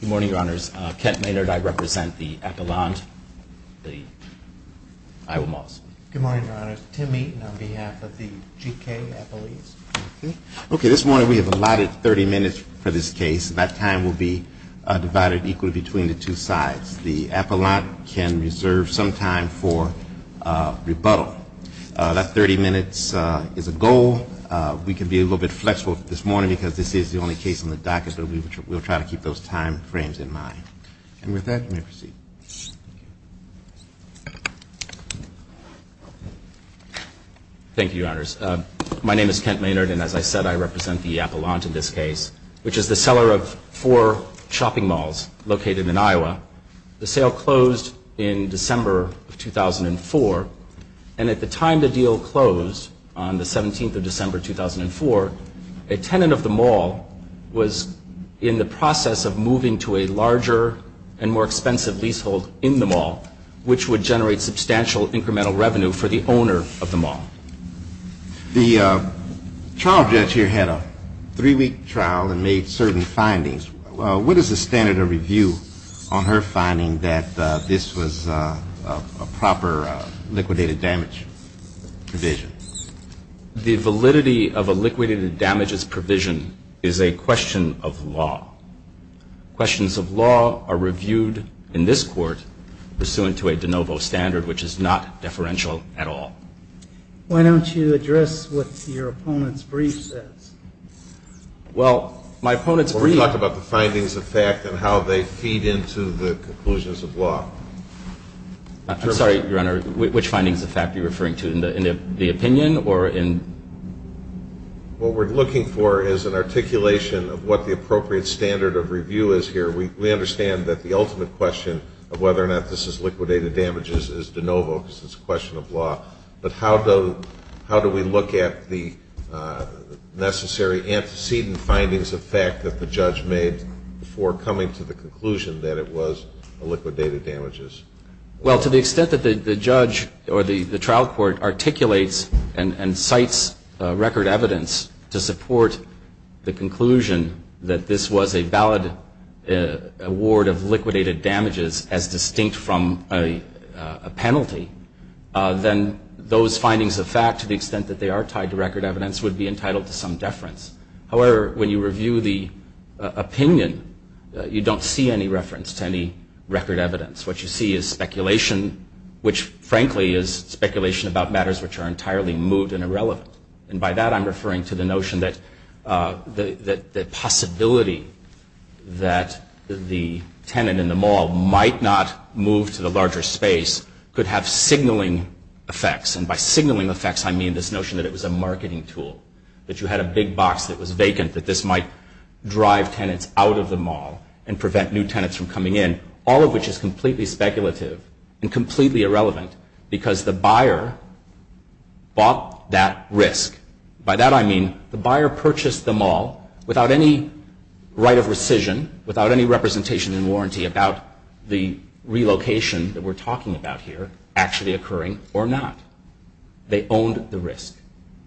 Good morning, Your Honors. Kent Maynard, I represent the Appellant, the Iowa Malls. Good morning, Your Honors. Tim Meaton on behalf of the G.K. Appellees. Okay, this morning we have allotted 30 minutes for this case. That time will be divided equally between the two sides. The Appellant can reserve some time for rebuttal. That 30 minutes is a goal. We can be a little bit flexible this morning because this is the only case on the docket, but we will try to keep those time frames in mind. And with that, you may proceed. Thank you, Your Honors. My name is Kent Maynard, and as I said, I represent the Appellant in this case, which is the seller of four shopping malls located in Iowa. The sale closed in December of 2004, and at the time the deal closed on the 17th of December 2004, a tenant of the mall was in the process of moving to a larger and more expensive leasehold in the mall, which would generate substantial incremental revenue for the owner of the mall. The trial judge here had a three-week trial and made certain findings. What is the standard of review on her finding that this was a proper liquidated damage provision? The validity of a liquidated damages provision is a question of law. Questions of law are reviewed in this Court pursuant to a de novo standard, which is not deferential at all. Why don't you address what your opponent's brief says? Well, my opponent's brief... I'm sorry, Your Honor, which findings of fact are you referring to, in the opinion or in... What we're looking for is an articulation of what the appropriate standard of review is here. We understand that the ultimate question of whether or not this is liquidated damages is de novo, because it's a question of law. But how do we look at the necessary antecedent findings of fact that the judge made before coming to the conclusion that it was liquidated damages? Well, to the extent that the judge or the trial court articulates and cites record evidence to support the conclusion that this was a valid award of liquidated damages as distinct from a penalty, then those findings of fact, to the extent that they are tied to record evidence, would be entitled to some deference. However, when you review the opinion, you don't see any reference to any record evidence. What you see is speculation, which, frankly, is speculation about matters which are entirely moot and irrelevant. And by that, I'm referring to the notion that the possibility that the tenant in the mall might not move to the larger space could have signaling effects, and by signaling effects, I mean this notion that it was a marketing tool, that you had a big box that was vacant, that this might drive tenants out of the mall and prevent new tenants from coming in, all of which is completely speculative and completely irrelevant, because the buyer bought that risk. By that, I mean the buyer purchased the mall without any right of rescission, without any representation and warranty about the relocation that we're talking about here actually occurring or not. They owned the risk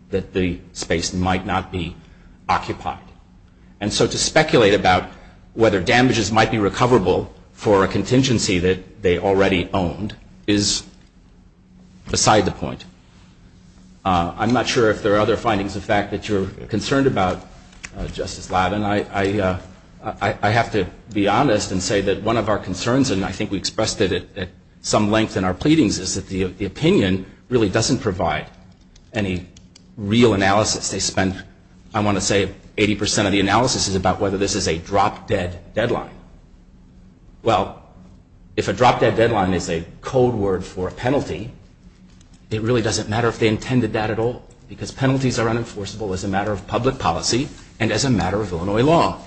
that the space might not be occupied. And so to speculate about whether damages might be recoverable for a contingency that they already owned is beside the point. I'm not sure if there are other findings of fact that you're concerned about, Justice Lavin. I have to be honest and say that one of our concerns, and I think we expressed it at some length in our pleadings, is that the opinion really doesn't provide any real analysis. I want to say 80% of the analysis is about whether this is a drop-dead deadline. Well, if a drop-dead deadline is a code word for a penalty, it really doesn't matter if they intended that at all, because penalties are unenforceable as a matter of public policy and as a matter of Illinois law.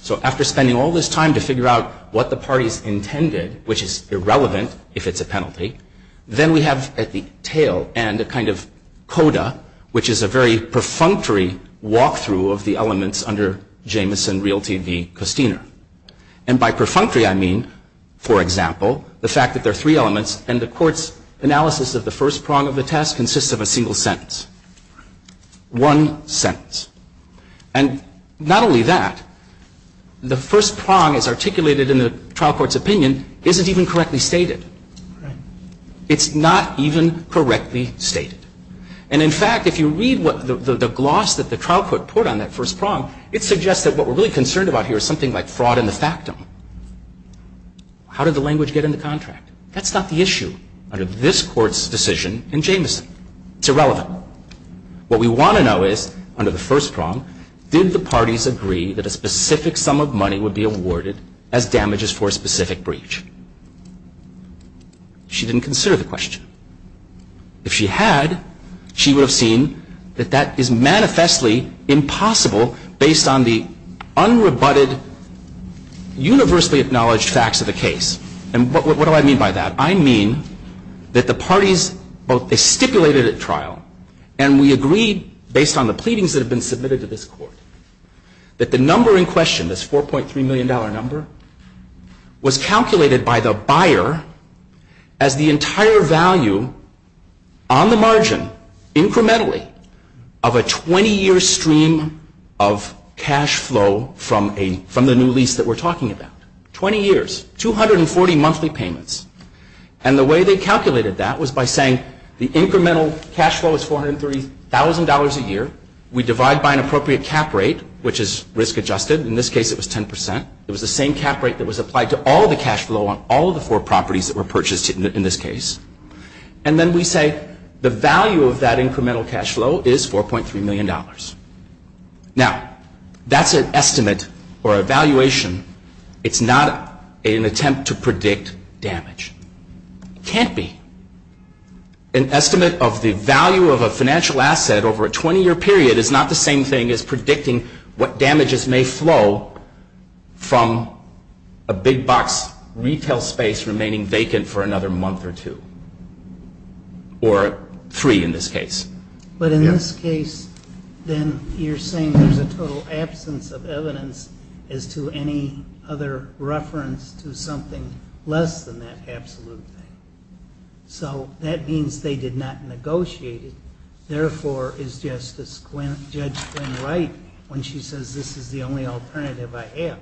So after spending all this time to figure out what the parties intended, which is irrelevant if it's a penalty, then we have at the tail end a kind of coda, which is a very perfunctory walkthrough of the elements under Jamison, Realtv, and Costiner. And by perfunctory, I mean, for example, the fact that there are three elements, and the Court's analysis of the first prong of the test consists of a single sentence. One sentence. And not only that, the first prong as articulated in the trial court's opinion isn't even correctly stated. It's not even correctly stated. And in fact, if you read the gloss that the trial court put on that first prong, it suggests that what we're really concerned about here is something like fraud in the factum. How did the language get in the contract? That's not the issue under this Court's decision in Jamison. It's irrelevant. What we want to know is, under the first prong, did the parties agree that a specific sum of money would be awarded as damages for a specific breach? She didn't consider the question. If she had, she would have seen that that is manifestly impossible based on the unrebutted, universally acknowledged facts of the case. And what do I mean by that? I mean that the parties both stipulated at trial, and we agreed based on the pleadings that have been submitted to this Court, that the number in question, this $4.3 million number, was calculated by the buyer as the entire value on the margin, incrementally, of a 20-year stream of cash flow from the new lease that we're talking about. 20 years. 240 monthly payments. And the way they calculated that was by saying, the incremental cash flow is $430,000 a year. We divide by an appropriate cap rate, which is risk-adjusted. In this case it was 10%. It was the same cap rate that was applied to all the cash flow on all the four properties that were purchased in this case. And then we say, the value of that incremental cash flow is $4.3 million. Now, that's an estimate or evaluation. It's not an attempt to predict damage. It can't be. An estimate of the value of a financial asset over a 20-year period is not the same thing as predicting what damages may flow from a big box retail space remaining vacant for another month or two. Or three in this case. But in this case, then you're saying there's a total absence of evidence as to any other reference to something less than that absolute thing. So that means they did not negotiate it. Therefore, is Justice Judge Quinn right when she says, this is the only alternative I have?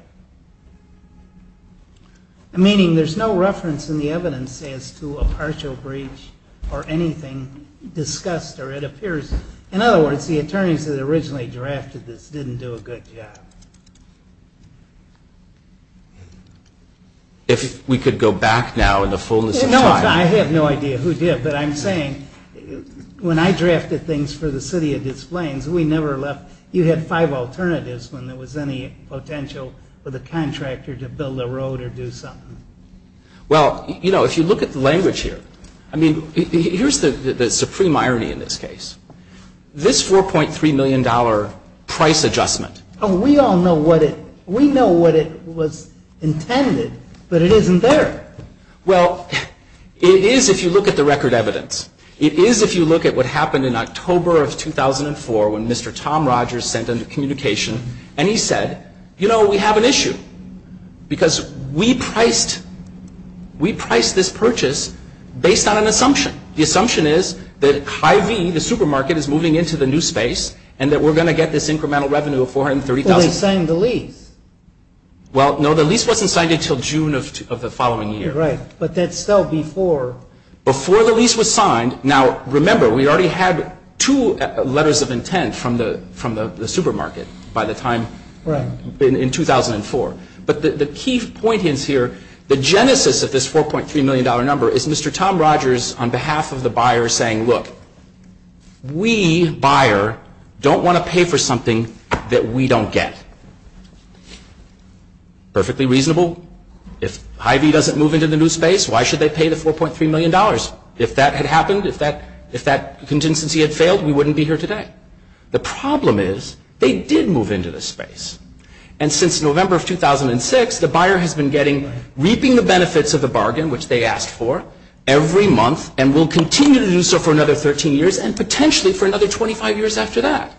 Meaning, there's no reference in the evidence as to a partial breach or anything discussed or anything that appears. In other words, the attorneys that originally drafted this didn't do a good job. If we could go back now in the fullness of time. No, I have no idea who did. But I'm saying, when I drafted things for the City of Des Plaines, we never left. You had five alternatives when there was any potential for the contractor to build a road or do something. Well, you know, if you look at the language here, I mean, here's the supreme irony in this case. This $4.3 million price adjustment. We all know what it, we know what it was intended, but it isn't there. Well, it is if you look at the record evidence. It is if you look at what happened in October of 2004 when Mr. Tom Rogers sent in the communication and he said, you know, we have an issue because we priced, we priced this purchase based on an assumption. The assumption is that Hy-Vee, the supermarket, is moving into the new space and that we're going to get this incremental revenue of $430,000. Well, they signed the lease. Well, no, the lease wasn't signed until June of the following year. Right, but that's still before. Before the lease was signed. Now, remember, we already had two letters of intent from the supermarket by the time, in 2004. But the key point is here, the genesis of this $4.3 million number is Mr. Tom Rogers on behalf of the buyer saying, look, we, buyer, don't want to pay for something that we don't get. Perfectly reasonable. If Hy-Vee doesn't move into the new space, why should they pay the $4.3 million? If that had happened, if that contingency had failed, we wouldn't be here today. The problem is they did move into the space. And since November of 2006, the buyer has been getting, reaping the benefits of the bargain, which they asked for, every month and will continue to do so for another 13 years and potentially for another 25 years after that.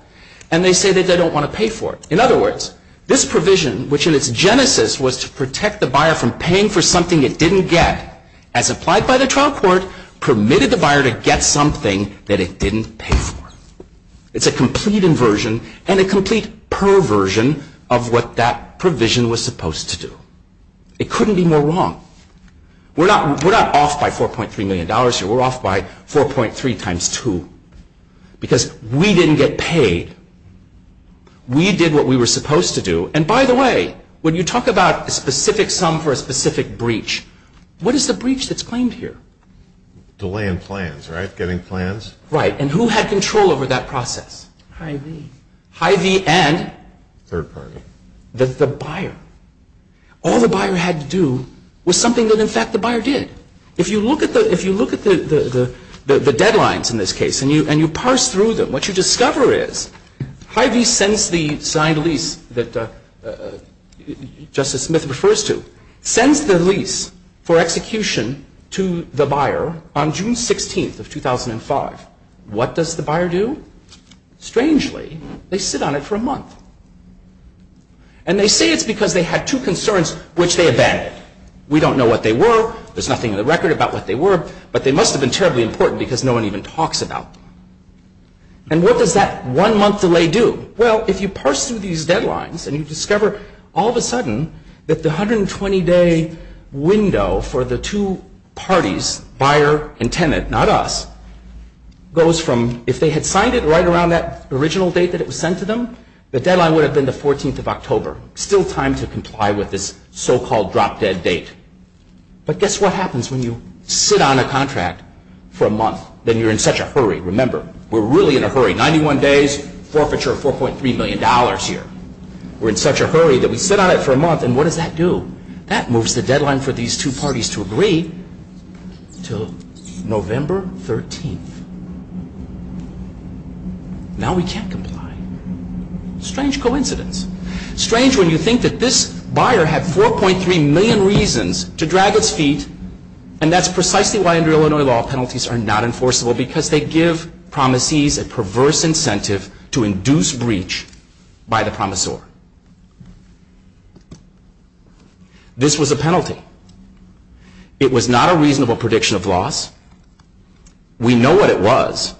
And they say that they don't want to pay for it. In other words, this provision, which in its genesis was to protect the buyer from paying for something it didn't get, as applied by the trial court, permitted the buyer to get something that it didn't pay for. It's a complete inversion and a complete perversion of what that provision was supposed to do. It couldn't be more wrong. We're not off by $4.3 million. We're off by 4.3 times 2. Because we didn't get paid. We did what we were supposed to do. And by the way, when you talk about a specific sum for a specific breach, what is the breach that's claimed here? Delaying plans, right? Getting plans? Right. And who had control over that process? Hy-Vee. Hy-Vee and? Third party. The buyer. All the buyer had to do was something that in fact the buyer did. If you look at the deadlines in this case and you parse through them, what you discover is Hy-Vee sends the signed lease that Justice Smith refers to, sends the lease for execution to the buyer on June 16th of 2005. What does the buyer do? Strangely, they sit on it for a month. And they say it's because they had two concerns which they abandoned. We don't know what they were. There's nothing in the record about what they were. But they must have been terribly important because no one even talks about them. And what does that one month delay do? Well, if you parse through these deadlines and you discover all of a sudden that the 120-day window for the two parties, buyer and tenant, not us, goes from if they had signed it right around that original date that it was sent to them, the deadline would have been the 14th of October. Still time to comply with this so-called drop-dead date. But guess what happens when you sit on a contract for a month? Then you're in such a hurry. Remember, we're really in a hurry. 91 days, forfeiture of $4.3 million here. We're in such a hurry that we sit on it for a month and what does that do? That moves the deadline for these two parties to agree to November 13th. Now we can't comply. Strange coincidence. Strange when you think that this buyer had $4.3 million reasons to drag its feet and that's precisely why under Illinois law penalties are not enforceable because they give promisees a perverse incentive to induce breach by the promisor. This was a penalty. It was not a reasonable prediction of loss. We know what it was.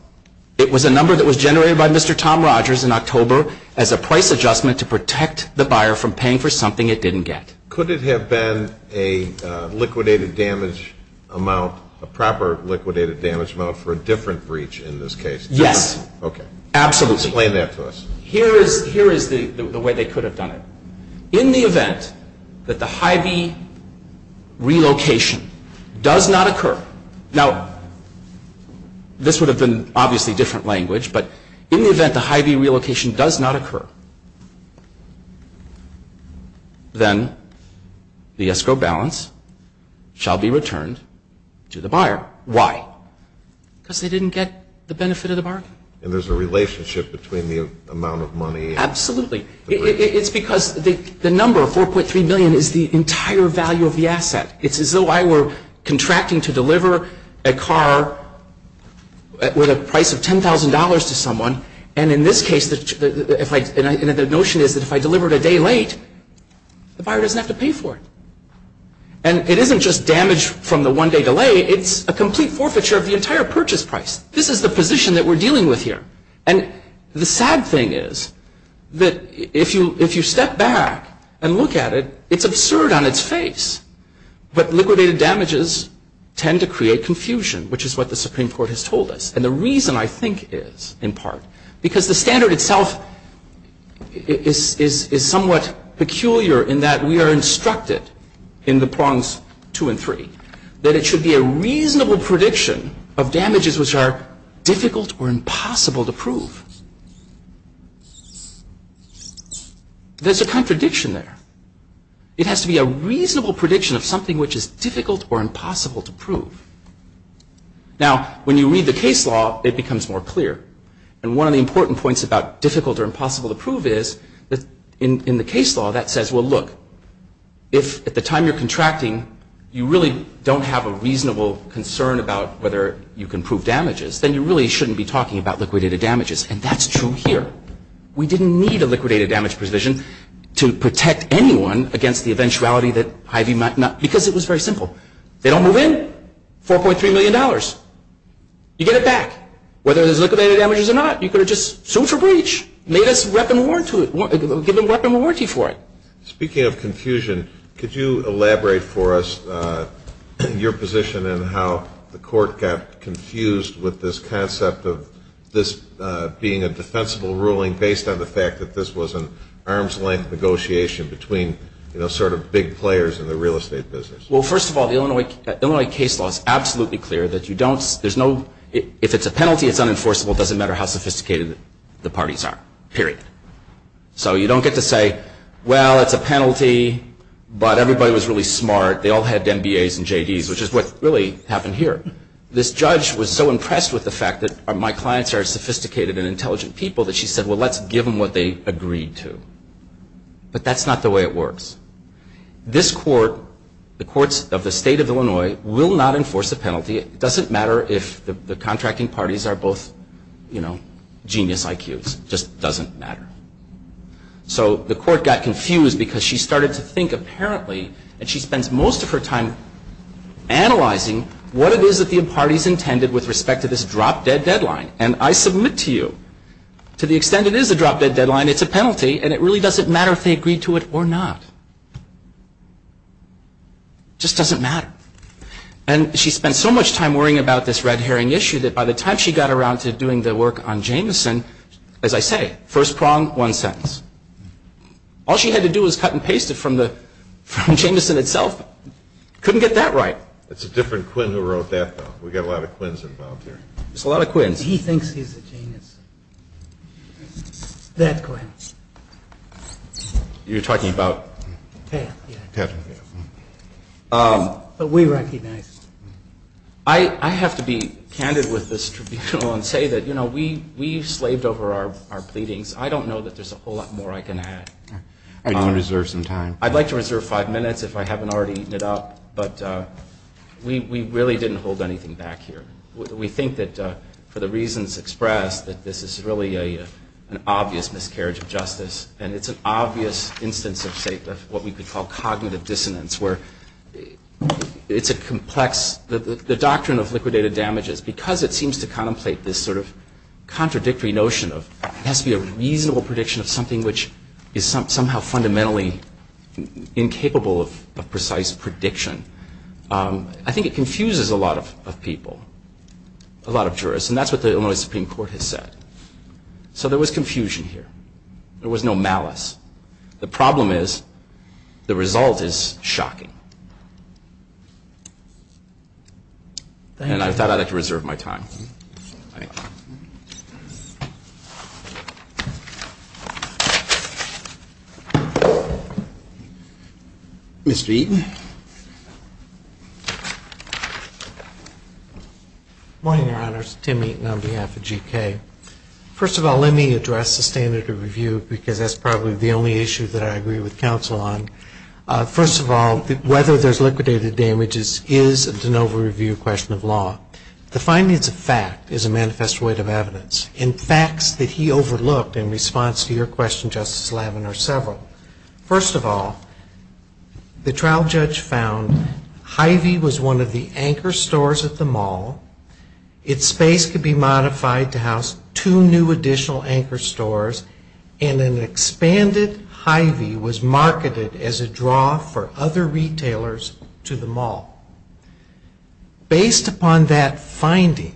It was a number that was generated by Mr. Tom Rogers in October as a price adjustment to protect the buyer from paying for something it didn't get. Could it have been a liquidated damage amount, a proper liquidated damage amount for a different breach in this case? Yes. Okay. Explain that to us. Here is the way they could have done it. In the event that the Hy-Vee relocation does not occur, now this would have been obviously different language, but in the event the Hy-Vee relocation does not occur, then the escrow balance shall be returned to the buyer. Why? Because they didn't get the benefit of the bargain. And there's a relationship between the amount of money and the breach. Absolutely. It's because the number of $4.3 million is the entire value of the asset. It's as though I were contracting to deliver a car with a price of $10,000 to someone, and in this case the notion is that if I deliver it a day late, the buyer doesn't have to pay for it. And it isn't just damage from the one-day delay, it's a complete forfeiture of the entire purchase price. This is the position that we're dealing with here. And the sad thing is that if you step back and look at it, it's absurd on its face, but liquidated damages tend to create confusion, which is what the Supreme Court has told us. And the reason, I think, is in part because the standard itself is somewhat peculiar in that we are instructed in the prongs two and three that it should be a reasonable prediction of damages which are difficult or impossible to prove. There's a contradiction there. It has to be a reasonable prediction of something which is difficult or impossible to prove. Now, when you read the case law, it becomes more clear. And one of the important points about difficult or impossible to prove is that in the case law that says, well, look, if at the time you're contracting, you really don't have a reasonable concern about whether you can prove damages, then you really shouldn't be talking about liquidated damages. And that's true here. We didn't need a liquidated damage provision to protect anyone against the eventuality that Hy-Vee might not, because it was very simple. They don't move in, $4.3 million. You get it back. Whether there's liquidated damages or not, you could have just sued for breach, given weapon warranty for it. Speaking of confusion, could you elaborate for us your position and how the court got confused with this concept of this being a defensible ruling based on the fact that this was an arm's-length negotiation between sort of big players in the real estate business? Well, first of all, the Illinois case law is absolutely clear that you don't, if it's a penalty, it's unenforceable. It doesn't matter how sophisticated the parties are, period. So you don't get to say, well, it's a penalty, but everybody was really smart. They all had MBAs and JDs, which is what really happened here. This judge was so impressed with the fact that my clients are sophisticated and intelligent people that she said, well, let's give them what they agreed to. But that's not the way it works. This court, the courts of the state of Illinois, will not enforce a penalty. It doesn't matter if the contracting parties are both genius IQs. It just doesn't matter. So the court got confused because she started to think, apparently, and she spends most of her time analyzing what it is that the parties intended with respect to this drop-dead deadline. And I submit to you, to the extent it is a drop-dead deadline, it's a penalty, and it really doesn't matter if they agreed to it or not. It just doesn't matter. And she spent so much time worrying about this red herring issue that by the time she got around to doing the work on Jamison, as I say, first prong, one sentence. All she had to do was cut and paste it from Jamison itself. Couldn't get that right. It's a different Quinn who wrote that, though. We've got a lot of Quinns involved here. It's a lot of Quinns. He thinks he's a genius. That Quinn. You're talking about? But we recognized. I have to be candid with this tribunal and say that, you know, we've slaved over our pleadings. I don't know that there's a whole lot more I can add. I'd like to reserve some time. I'd like to reserve five minutes if I haven't already eaten it up. But we really didn't hold anything back here. We think that, for the reasons expressed, that this is really an obvious miscarriage of justice, and it's an obvious instance of what we could call cognitive dissonance, where it's a complex. The doctrine of liquidated damages, because it seems to contemplate this sort of contradictory notion of it has to be a reasonable prediction of something which is somehow fundamentally incapable of precise prediction. I think it confuses a lot of people, a lot of jurists. And that's what the Illinois Supreme Court has said. So there was confusion here. There was no malice. The problem is the result is shocking. And I thought I'd like to reserve my time. Thank you. Mr. Eaton. Good morning, Your Honors. Tim Eaton on behalf of GK. First of all, let me address the standard of review, because that's probably the only issue that I agree with counsel on. First of all, whether there's liquidated damages is an over-review question of law. The findings of fact is a manifest void of evidence. And facts that he overlooked in response to your question, Justice Levin, are several. First of all, the trial judge found Hy-Vee was one of the anchor stores at the mall. Its space could be modified to house two new additional anchor stores, and an expanded Hy-Vee was marketed as a draw for other retailers to the mall. Based upon that finding,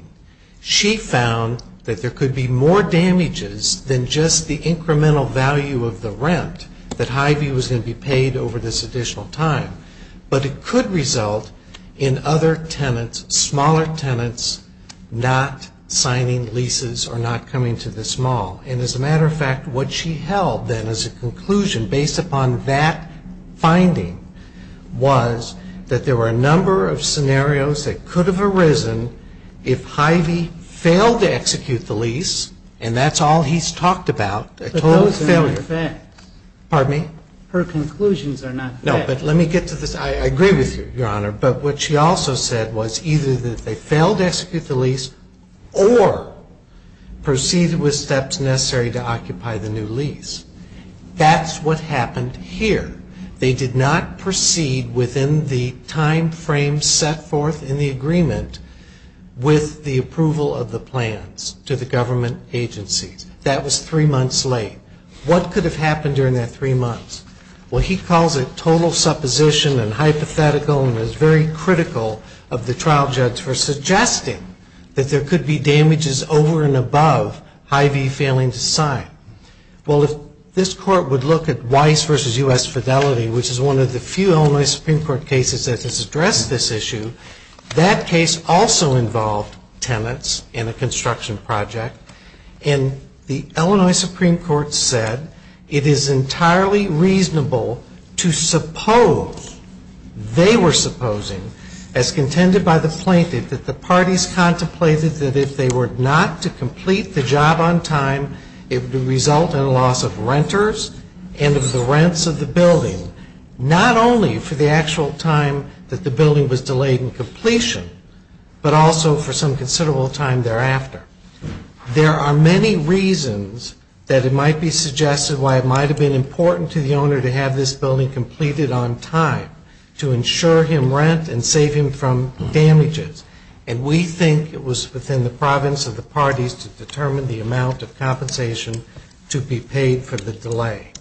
she found that there could be more damages than just the incremental value of the rent that Hy-Vee was going to be paid over this additional time. But it could result in other tenants, smaller tenants, not signing leases or not coming to this mall. And as a matter of fact, what she held then as a conclusion based upon that finding was that there were a number of scenarios that could have arisen if Hy-Vee failed to execute the lease, and that's all he's talked about, a total failure. But those are not facts. Pardon me? Her conclusions are not facts. No, but let me get to this. I agree with you, Your Honor. But what she also said was either that they failed to execute the lease or proceeded with steps necessary to occupy the new lease. That's what happened here. They did not proceed within the time frame set forth in the agreement with the approval of the plans to the government agencies. That was three months late. What could have happened during that three months? Well, he calls it total supposition and hypothetical and is very critical of the trial judge for suggesting that there could be damages over and above Hy-Vee failing to sign. Well, if this Court would look at Weiss v. U.S. Fidelity, which is one of the few Illinois Supreme Court cases that has addressed this issue, that case also involved tenants in a construction project. And the Illinois Supreme Court said it is entirely reasonable to suppose they were supposing, as contended by the plaintiff, that the parties contemplated that if they were not to complete the job on time, it would result in a loss of renters and of the rents of the building, not only for the actual time that the building was delayed in completion, but also for some considerable time thereafter. There are many reasons that it might be suggested why it might have been important to the owner to have this building completed on time to ensure him rent and save him from damages. And we think it was within the province of the parties to determine the amount of compensation to be paid for the delay.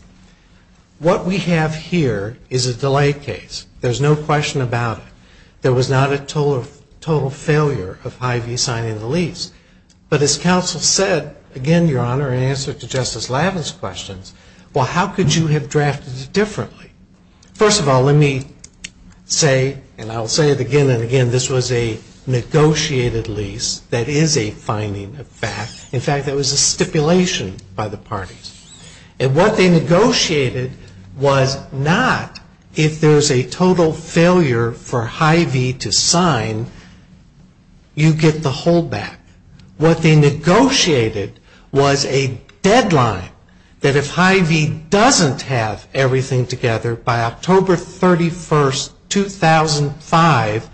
What we have here is a delay case. There's no question about it. There was not a total failure of Hy-Vee signing the lease. But as counsel said, again, Your Honor, in answer to Justice Lavin's questions, well, how could you have drafted it differently? First of all, let me say, and I'll say it again and again, this was a negotiated lease. That is a finding of fact. In fact, that was a stipulation by the parties. And what they negotiated was not if there's a total failure for Hy-Vee to What they negotiated was a deadline that if Hy-Vee doesn't have everything together by October 31, 2005,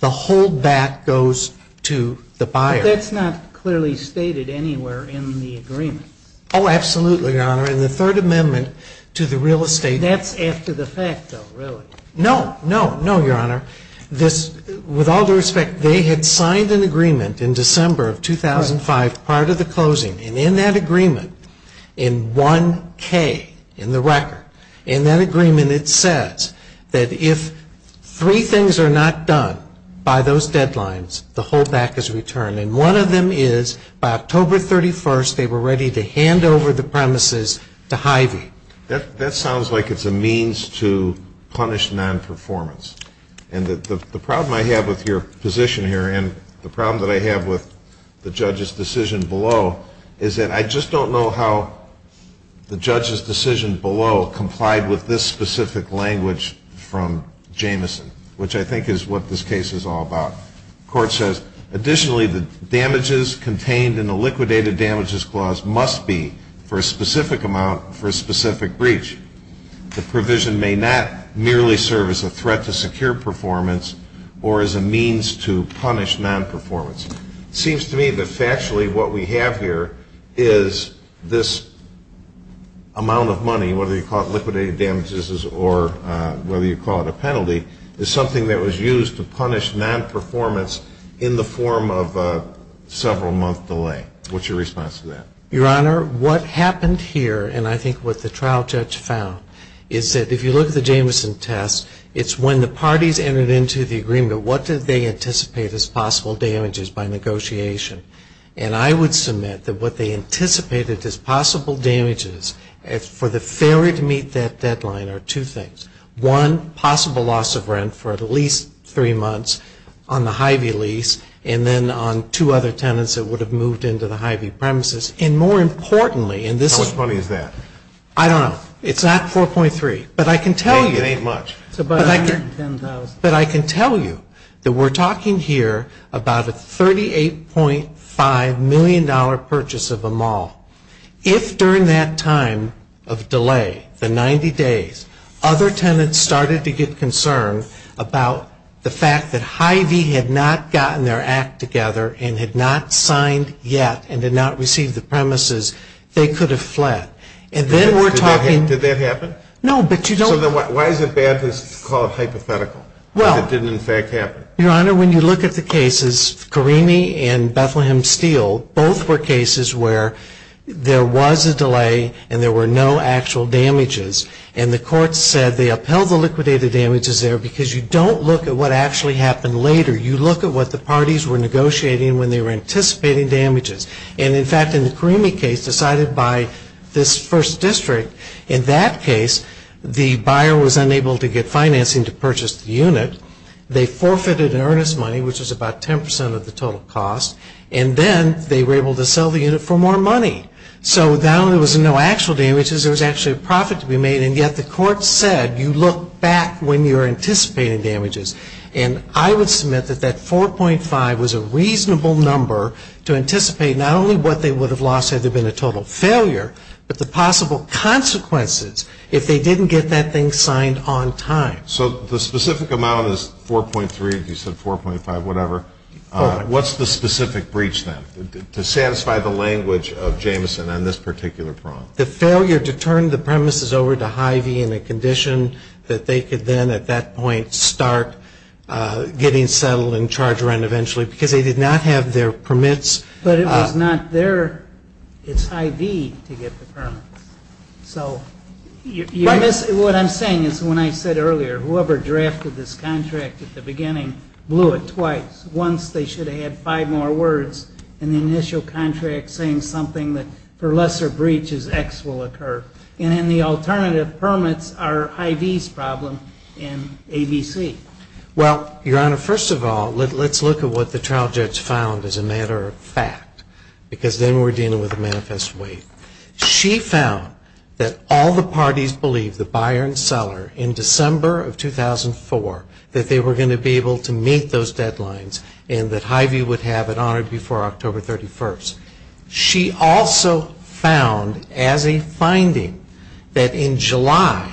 the hold back goes to the buyer. But that's not clearly stated anywhere in the agreement. Oh, absolutely, Your Honor. In the Third Amendment to the Real Estate Act. That's after the fact, though, really. No, no, no, Your Honor. With all due respect, they had signed an agreement in December of 2005 prior to the closing. And in that agreement, in 1K, in the record, in that agreement it says that if three things are not done by those deadlines, the hold back is returned. And one of them is by October 31st, they were ready to hand over the premises to Hy-Vee. That sounds like it's a means to punish non-performance. And the problem I have with your position here and the problem that I have with the judge's decision below is that I just don't know how the judge's decision below complied with this specific language from Jamison, which I think is what this case is all about. The court says, additionally, the damages contained in the liquidated damages clause must be for a specific amount for a specific breach. The provision may not merely serve as a threat to secure performance or as a means to punish non-performance. It seems to me that factually what we have here is this amount of money, whether you call it liquidated damages or whether you call it a penalty, is something that was used to punish non-performance in the form of a several month delay. What's your response to that? Your Honor, what happened here and I think what the trial judge found is that if you look at the Jamison test, it's when the parties entered into the agreement, what did they anticipate as possible damages by negotiation? And I would submit that what they anticipated as possible damages for the failure to meet that deadline are two things. One, possible loss of rent for at least three months on the Hy-Vee lease and then on two other tenants that would have moved into the Hy-Vee premises. And more importantly in this How much money is that? I don't know. It's not 4.3. It ain't much. But I can tell you that we're talking here about a $38.5 million purchase of a mall. If during that time of delay, the 90 days, other tenants started to get together and had not signed yet and did not receive the premises, they could have fled. And then we're talking Did that happen? No, but you don't So why is it bad to call it hypothetical? Well Because it didn't in fact happen. Your Honor, when you look at the cases, Carini and Bethlehem Steel, both were cases where there was a delay and there were no actual damages. And the court said they upheld the liquidated damages there because you don't look at what actually happened later. You look at what the parties were negotiating when they were anticipating damages. And in fact in the Carini case decided by this first district, in that case the buyer was unable to get financing to purchase the unit. They forfeited an earnest money, which is about 10% of the total cost. And then they were able to sell the unit for more money. So not only was there no actual damages, there was actually a profit to be made. And yet the court said you look back when you're anticipating damages. And I would submit that that 4.5 was a reasonable number to anticipate not only what they would have lost had there been a total failure, but the possible consequences if they didn't get that thing signed on time. So the specific amount is 4.3, you said 4.5, whatever. 4. What's the specific breach then to satisfy the language of Jameson on this particular problem? The failure to turn the premises over to Hy-Vee in a condition that they could then at that point start getting settled and charged rent eventually because they did not have their permits. But it was not their, it's Hy-Vee to get the permits. So what I'm saying is when I said earlier, whoever drafted this contract at the beginning blew it twice. Once they should have had five more words in the initial contract saying something that for lesser breaches X will occur. And then the alternative permits are Hy-Vee's problem and ABC. Well, Your Honor, first of all, let's look at what the trial judge found as a matter of fact. Because then we're dealing with a manifest weight. She found that all the parties believed, the buyer and seller, in December of 2004 that they were going to be able to meet those deadlines and that Hy-Vee would have it honored before October 31st. She also found as a finding that in July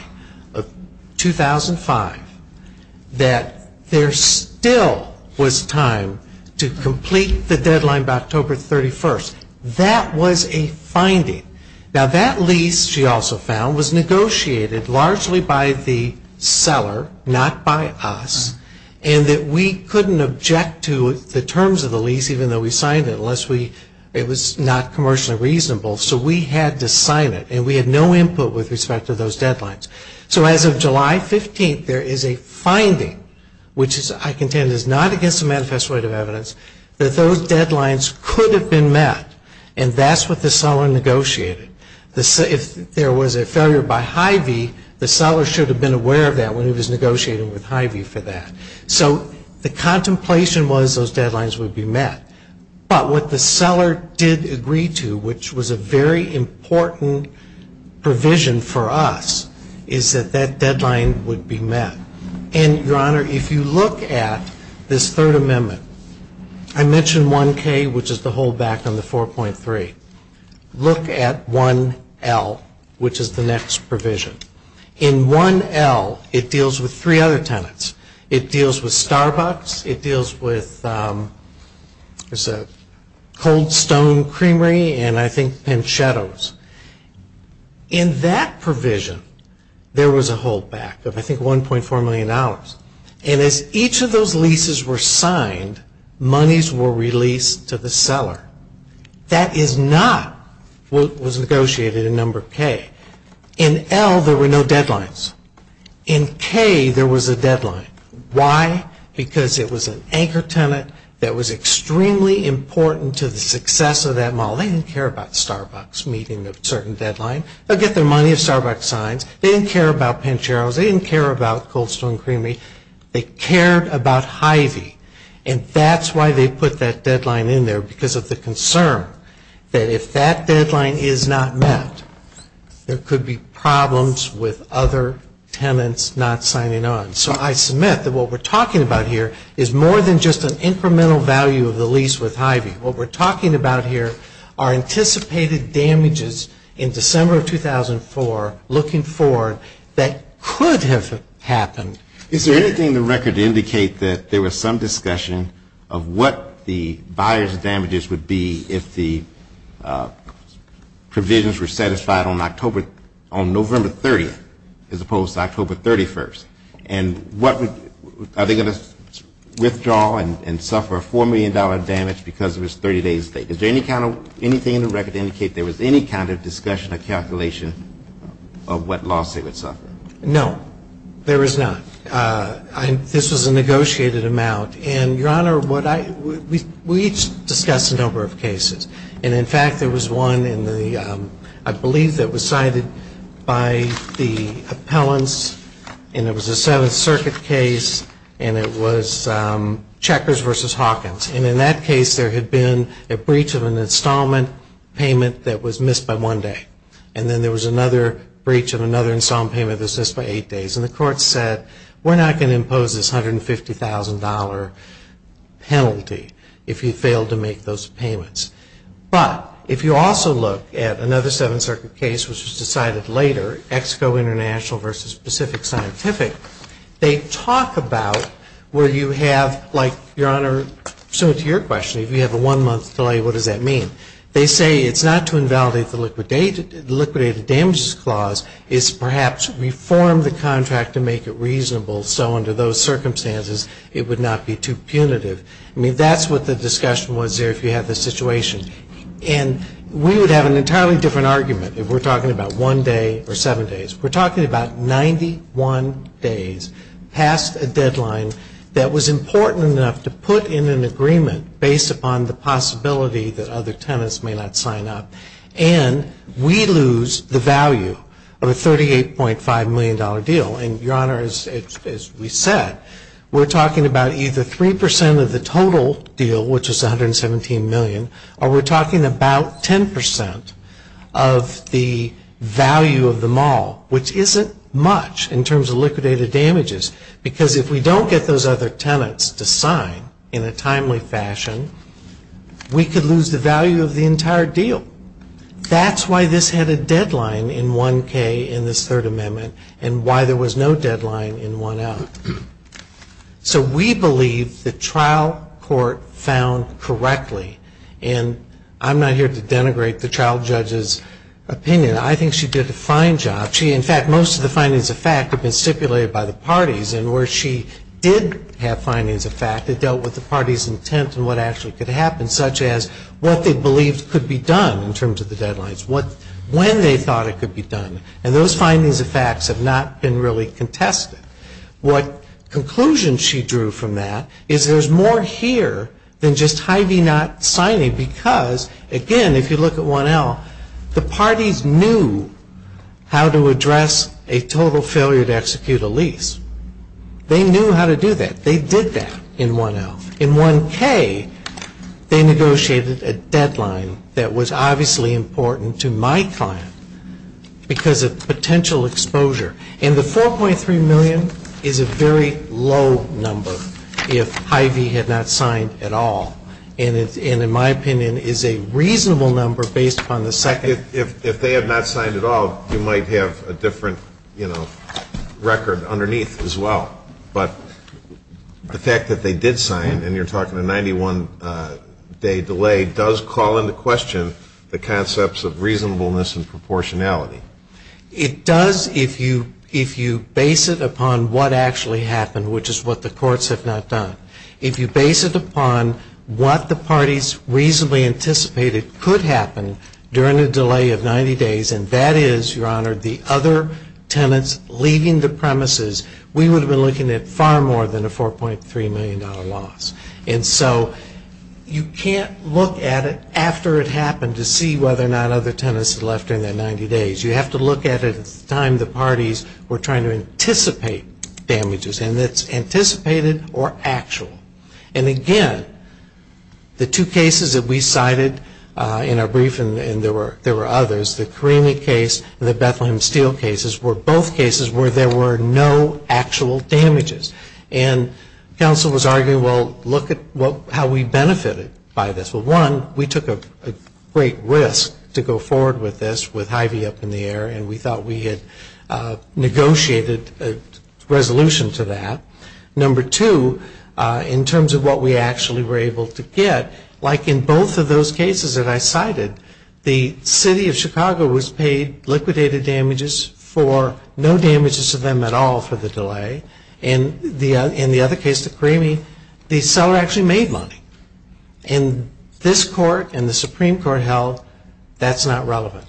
of 2005 that there still was time to complete the deadline by October 31st. That was a finding. Now that lease, she also found, was negotiated largely by the seller, not by us, and that we couldn't object to the terms of the lease even though we thought it was not commercially reasonable, so we had to sign it. And we had no input with respect to those deadlines. So as of July 15th, there is a finding, which I contend is not against the manifest weight of evidence, that those deadlines could have been met. And that's what the seller negotiated. If there was a failure by Hy-Vee, the seller should have been aware of that when he was negotiating with Hy-Vee for that. So the contemplation was those deadlines would be met. But what the seller did agree to, which was a very important provision for us, is that that deadline would be met. And, Your Honor, if you look at this third amendment, I mentioned 1K, which is the hold back on the 4.3. Look at 1L, which is the next provision. In 1L, it deals with three other tenants. It deals with Starbucks. It deals with Cold Stone Creamery and, I think, Pancetto's. In that provision, there was a hold back of, I think, $1.4 million. And as each of those leases were signed, monies were released to the seller. That is not what was negotiated in Number K. In L, there were no deadlines. In K, there was a deadline. Why? Because it was an anchor tenant that was extremely important to the success of that mall. They didn't care about Starbucks meeting a certain deadline. They'll get their money if Starbucks signs. They didn't care about Pancero's. They didn't care about Cold Stone Creamery. They cared about Hy-Vee. And that's why they put that deadline in there, because of the concern that if that deadline is not met, there could be problems with other tenants not signing on. So I submit that what we're talking about here is more than just an incremental value of the lease with Hy-Vee. What we're talking about here are anticipated damages in December of 2004 looking forward that could have happened. Is there anything in the record to indicate that there was some discussion of what the buyer's damages would be if the provisions were satisfied on November 30th as opposed to October 31st? And are they going to withdraw and suffer a $4 million damage because it was 30 days late? Is there anything in the record to indicate there was any kind of discussion or calculation of what loss they would suffer? No, there is not. This was a negotiated amount. And, Your Honor, we each discussed a number of cases. And, in fact, there was one I believe that was cited by the appellants. And it was a Seventh Circuit case. And it was Checkers v. Hawkins. And in that case there had been a breach of an installment payment that was missed by one day. And then there was another breach of another installment payment that was missed by eight days. And the court said, we're not going to impose this $150,000 penalty if you failed to make those payments. But if you also look at another Seventh Circuit case, which was decided later, Exco International v. Pacific Scientific, they talk about where you have, like, Your Honor, similar to your question, if you have a one-month delay, what does that mean? They say it's not to invalidate the liquidated damages clause. It's perhaps reform the contract to make it reasonable so under those circumstances it would not be too punitive. I mean, that's what the discussion was there if you have the situation. And we would have an entirely different argument if we're talking about one day or seven days. We're talking about 91 days past a deadline that was important enough to put in an agreement based upon the possibility that other tenants may not sign up. And we lose the value of a $38.5 million deal. And, Your Honor, as we said, we're talking about either 3 percent of the total deal, which was $117 million, or we're talking about 10 percent of the value of them all, which isn't much in terms of liquidated damages. Because if we don't get those other tenants to sign in a timely fashion, we could lose the value of the entire deal. That's why this had a deadline in 1K in this Third Amendment and why there was no deadline in 1L. So we believe the trial court found correctly. And I'm not here to denigrate the trial judge's opinion. I think she did a fine job. She, in fact, most of the findings of fact have been stipulated by the parties. And where she did have findings of fact, it dealt with the party's intent and what actually could happen, such as what they believed could be done in terms of the deadlines, when they thought it could be done. And those findings of facts have not been really contested. What conclusion she drew from that is there's more here than just Hy-Vee not signing because, again, if you look at 1L, the parties knew how to address a total failure to execute a lease. They knew how to do that. They did that in 1L. In 1K, they negotiated a deadline that was obviously important to my client because of potential exposure. And the $4.3 million is a very low number if Hy-Vee had not signed at all. And in my opinion, is a reasonable number based upon the second. If they had not signed at all, you might have a different, you know, record underneath as well. But the fact that they did sign, and you're talking a 91-day delay, does call into question the concepts of reasonableness and proportionality. It does if you base it upon what actually happened, which is what the courts have not done. If you base it upon what the parties reasonably anticipated could happen during a delay of 90 days, and that is, Your Honor, the other tenants leaving the property, you're looking at far more than a $4.3 million loss. And so you can't look at it after it happened to see whether or not other tenants had left during that 90 days. You have to look at it at the time the parties were trying to anticipate damages. And it's anticipated or actual. And again, the two cases that we cited in our brief, and there were others, the Karimi case and the Bethlehem Steel cases, were both cases where there were no actual damages. And counsel was arguing, well, look at how we benefited by this. Well, one, we took a great risk to go forward with this with Hy-Vee up in the air, and we thought we had negotiated a resolution to that. Number two, in terms of what we actually were able to get, like in both of those cases that I cited, the City of Chicago was paid liquidated damages for no damages to them at all for the delay. And in the other case, the Karimi, the seller actually made money. And this court and the Supreme Court held that's not relevant.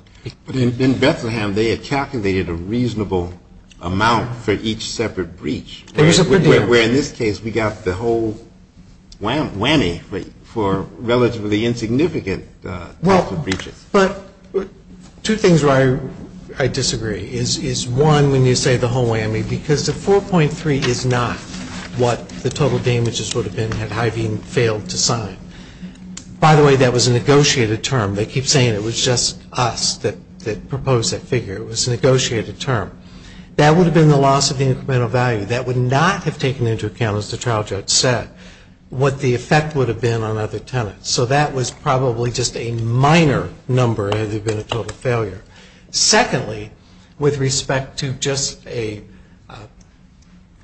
But in Bethlehem, they had calculated a reasonable amount for each separate breach, where in this case we got the whole whammy for relatively insignificant types of breaches. But two things where I disagree is, one, when you say the whole whammy, because the 4.3 is not what the total damages would have been had Hy-Vee failed to sign. By the way, that was a negotiated term. They keep saying it was just us that proposed that figure. It was a negotiated term. That would have been the loss of the incremental value. That would not have taken into account, as the trial judge said, what the effect would have been on other tenants. So that was probably just a minor number had there been a total failure. Secondly, with respect to just a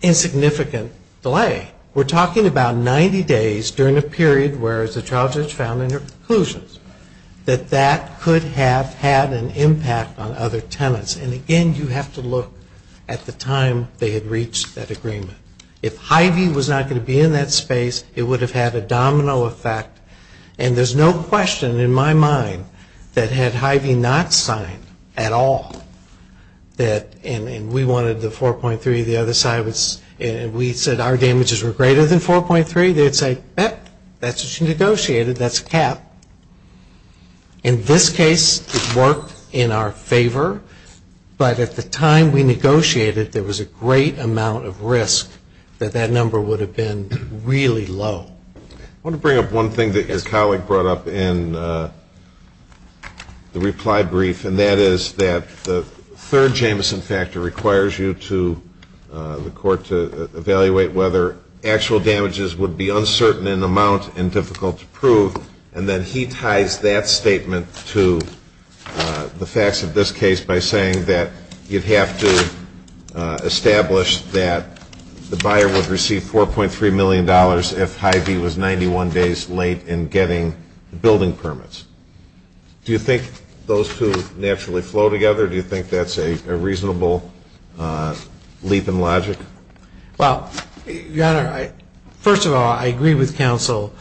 insignificant delay, we're talking about 90 days during a period where, as the trial judge found in her conclusions, that that could have had an impact on other tenants. And again, you have to look at the time they had reached that agreement. If Hy-Vee was not going to be in that space, it would have had a domino effect. And there's no question in my mind that had Hy-Vee not signed at all, and we wanted the 4.3, the other side was, and we said our damages were greater than 4.3, they'd say, yep, that's what you negotiated. That's a cap. In this case, it worked in our favor. But at the time we negotiated, there was a great amount of risk that that number would have been really low. I want to bring up one thing that your colleague brought up in the reply brief, and that is that the third Jameson factor requires you to, the court to evaluate whether actual damages would be uncertain in amount and difficult to prove, and then he ties that statement to the facts of this case by saying that you'd have to establish that the buyer would receive $4.3 million if Hy-Vee was 91 days late in getting the building permits. Do you think those two naturally flow together? Do you think that's a reasonable leap in logic? Well, Your Honor, first of all, I agree with counsel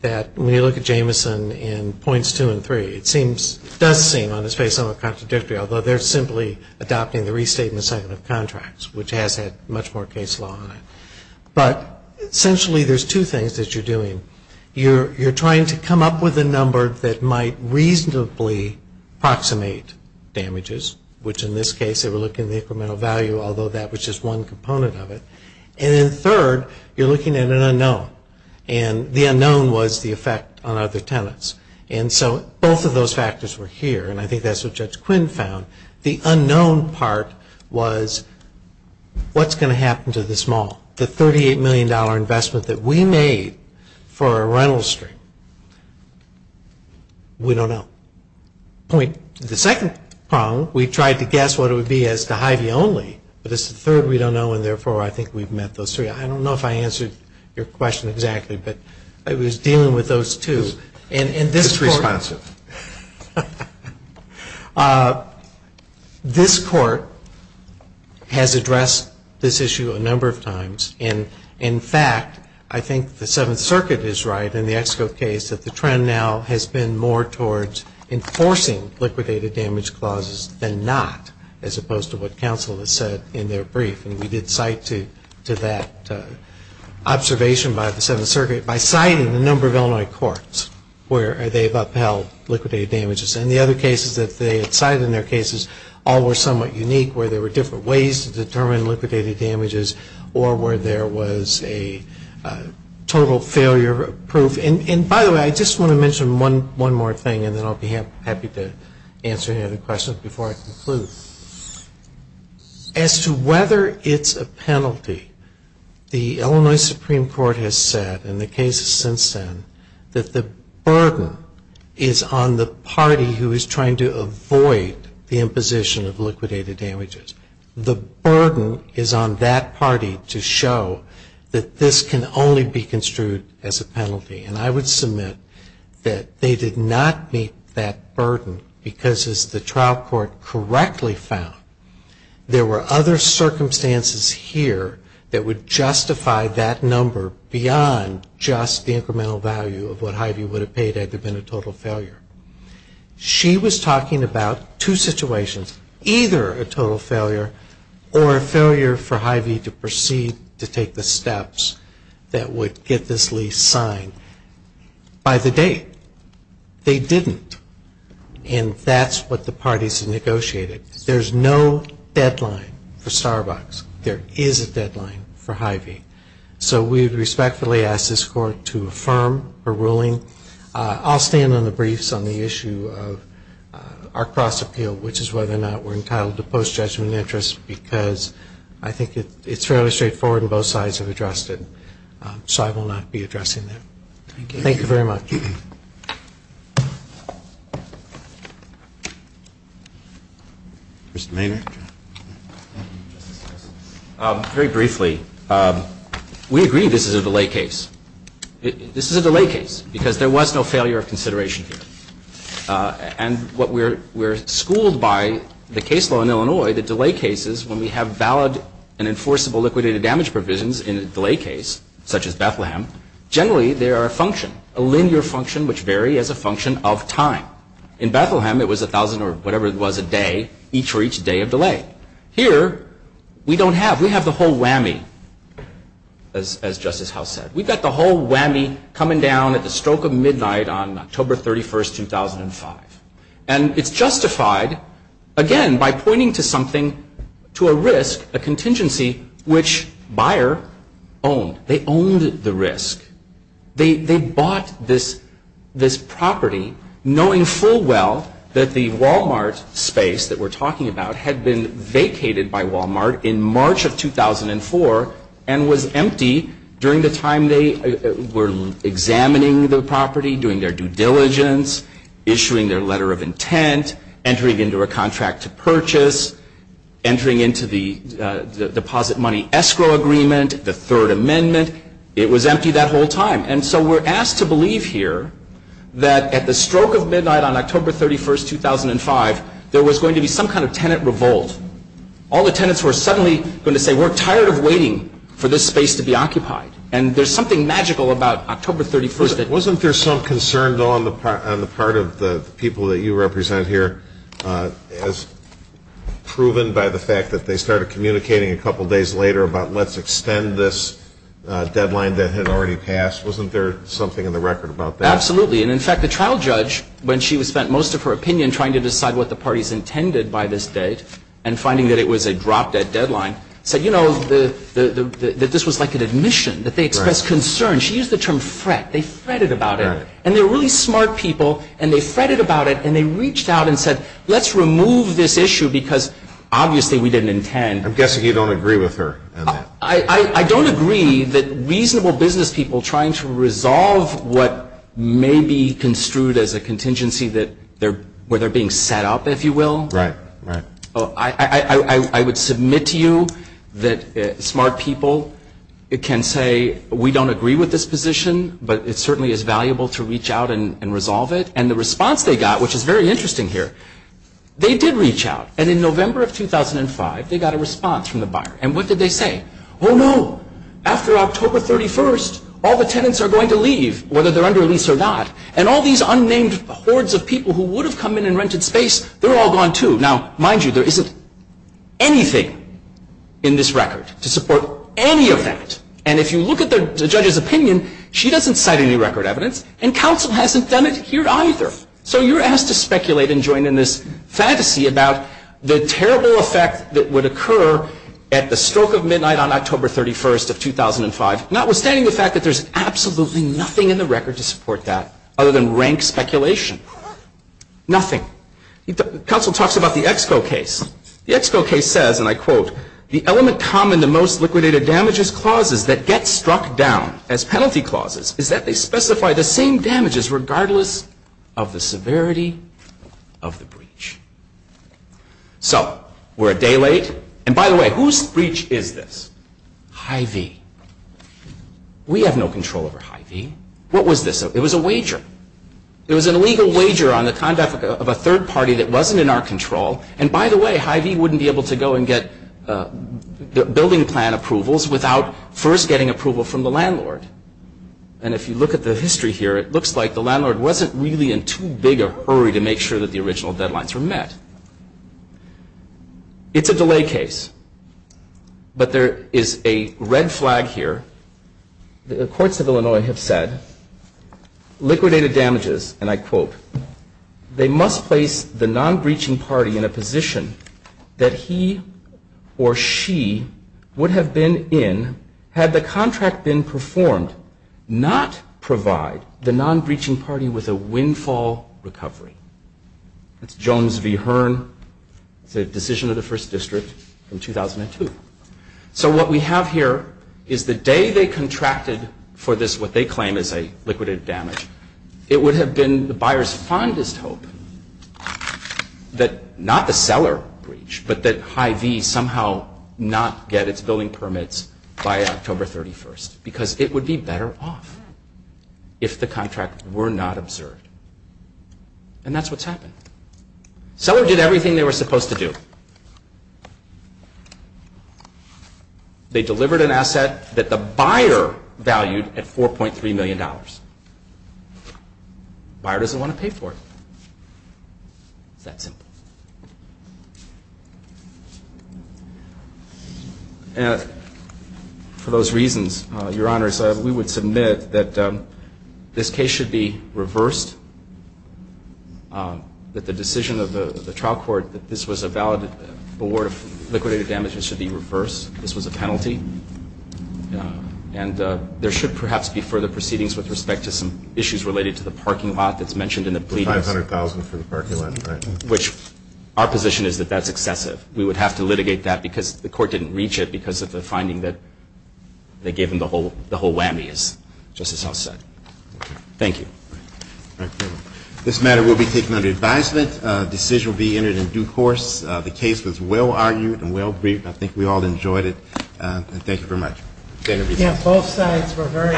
that when you look at Jameson in points two and three, it does seem on its face somewhat contradictory, although they're simply adopting the restatement cycle of contracts, which has had much more case law on it. But essentially there's two things that you're doing. You're trying to come up with a number that might reasonably approximate damages, which in this case, they were looking at the incremental value, although that was just one component of it. And then third, you're looking at an unknown, and the unknown was the effect on other tenants. And so both of those factors were here, and I think that's what Judge Quinn found. The unknown part was what's going to happen to this mall? The $38 million investment that we made for a rental street? We don't know. The second problem, we tried to guess what it would be as to Hy-Vee only, but it's the third we don't know, and therefore I think we've met those three. I don't know if I answered your question exactly, but I was dealing with those two. It's responsive. This Court has addressed this issue a number of times, and in fact, I think the Seventh Circuit is right in the Exco case that the trend now has been more towards enforcing liquidated damage clauses than not, as opposed to what counsel has said in their brief. And we did cite to that observation by the Seventh Circuit by citing a number of Illinois courts where they've upheld liquidated damages. And the other cases that they had cited in their cases all were somewhat unique, where there were different ways to determine liquidated damages or where there was a total failure proof. And by the way, I just want to mention one more thing, and then I'll be happy to answer any other questions before I conclude. As to whether it's a penalty, the Illinois Supreme Court has said in the cases since then that the burden is on the party who is trying to avoid the imposition of liquidated damages. The burden is on that party to show that this can only be construed as a total failure. And I would submit that they did not meet that burden because, as the trial court correctly found, there were other circumstances here that would justify that number beyond just the incremental value of what Hy-Vee would have paid had there been a total failure. She was talking about two situations, either a total failure or a failure for date. They didn't. And that's what the parties negotiated. There's no deadline for Starbucks. There is a deadline for Hy-Vee. So we respectfully ask this court to affirm her ruling. I'll stand on the briefs on the issue of our cross appeal, which is whether or not we're entitled to post-judgment interest because I think it's fairly straightforward and both sides have addressed it. So I will not be addressing that. Thank you very much. Mr. Maynard. Very briefly, we agree this is a delay case. This is a delay case because there was no failure of consideration here. And we're schooled by the case law in Illinois that delay cases, when we have valid and enforceable liquidated damage provisions in a delay case, such as there are a function, a linear function which vary as a function of time. In Bethlehem, it was 1,000 or whatever it was a day, each for each day of delay. Here, we don't have. We have the whole whammy, as Justice House said. We've got the whole whammy coming down at the stroke of midnight on October 31, 2005. And it's justified, again, by pointing to something, to a risk, a contingency, which buyer owned. They owned the risk. They bought this property knowing full well that the Wal-Mart space that we're talking about had been vacated by Wal-Mart in March of 2004 and was empty during the time they were examining the property, doing their due diligence, issuing their letter of intent, entering into a contract to purchase, entering into the deposit money escrow agreement, the Third Amendment. It was empty that whole time. And so we're asked to believe here that at the stroke of midnight on October 31, 2005, there was going to be some kind of tenant revolt. All the tenants were suddenly going to say, we're tired of waiting for this space to be occupied. And there's something magical about October 31. Wasn't there some concern, though, on the part of the people that you represent here as proven by the fact that they started communicating a couple days later about let's extend this deadline that had already passed? Wasn't there something in the record about that? Absolutely. And, in fact, the trial judge, when she spent most of her opinion trying to decide what the parties intended by this date and finding that it was a drop-dead deadline, said, you know, that this was like an admission, that they expressed concern. She used the term fret. They fretted about it. And they're really smart people, and they fretted about it, and they reached out and said, let's remove this issue because obviously we didn't intend. I'm guessing you don't agree with her on that. I don't agree that reasonable business people trying to resolve what may be construed as a contingency where they're being set up, if you will. Right. Right. I would submit to you that smart people can say, we don't agree with this position, but it certainly is valuable to reach out and resolve it. And the response they got, which is very interesting here, they did reach out. And in November of 2005, they got a response from the buyer. And what did they say? Oh, no. After October 31st, all the tenants are going to leave, whether they're under lease or not. And all these unnamed hordes of people who would have come in and rented space, they're all gone, too. Now, mind you, there isn't anything in this record to support any of that. And if you look at the judge's opinion, she doesn't cite any record evidence, and counsel hasn't done it here either. So you're asked to speculate and join in this fantasy about the terrible effect that would occur at the stroke of midnight on October 31st of 2005, notwithstanding the fact that there's absolutely nothing in the record to support that other than rank speculation. Nothing. Counsel talks about the Exco case. The Exco case says, and I quote, the element common to most liquidated damages clauses that get struck down as penalty clauses is that they specify the same damages regardless of the severity of the breach. So we're a day late. And by the way, whose breach is this? Hy-Vee. We have no control over Hy-Vee. What was this? It was a wager. It was an illegal wager on the conduct of a third party that wasn't in our control. And by the way, Hy-Vee wouldn't be able to go and get building plan approvals without first getting approval from the landlord. And if you look at the history here, it looks like the landlord wasn't really in too big a hurry to make sure that the original deadlines were met. It's a delay case. But there is a red flag here. The courts of Illinois have said liquidated damages, and I quote, they must place the non-breaching party in a position that he or she would have been in had the contract been performed not provide the non-breaching party with a windfall recovery. That's Jones v. Hearn. It's a decision of the first district in 2002. So what we have here is the day they contracted for this, what they claim is a liquidated damage, it would have been the buyer's fondest hope that not the building permits by October 31st because it would be better off if the contract were not observed. And that's what's happened. Seller did everything they were supposed to do. They delivered an asset that the buyer valued at $4.3 million. Buyer doesn't want to pay for it. It's that simple. And for those reasons, Your Honors, we would submit that this case should be reversed, that the decision of the trial court that this was a valid award of liquidated damages should be reversed. This was a penalty. And there should perhaps be further proceedings with respect to some issues related to the parking lot that's mentioned in the pleadings. $500,000 for the parking lot, right. Which our position is that that's excessive. We would have to litigate that because the court didn't reach it because of the finding that they gave him the whole whammy, as Justice House said. Thank you. This matter will be taken under advisement. A decision will be entered in due course. The case was well-argued and well-briefed. I think we all enjoyed it. Thank you very much. Yeah, both sides were very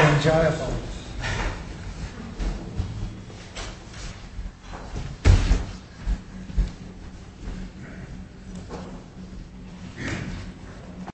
enjoyable.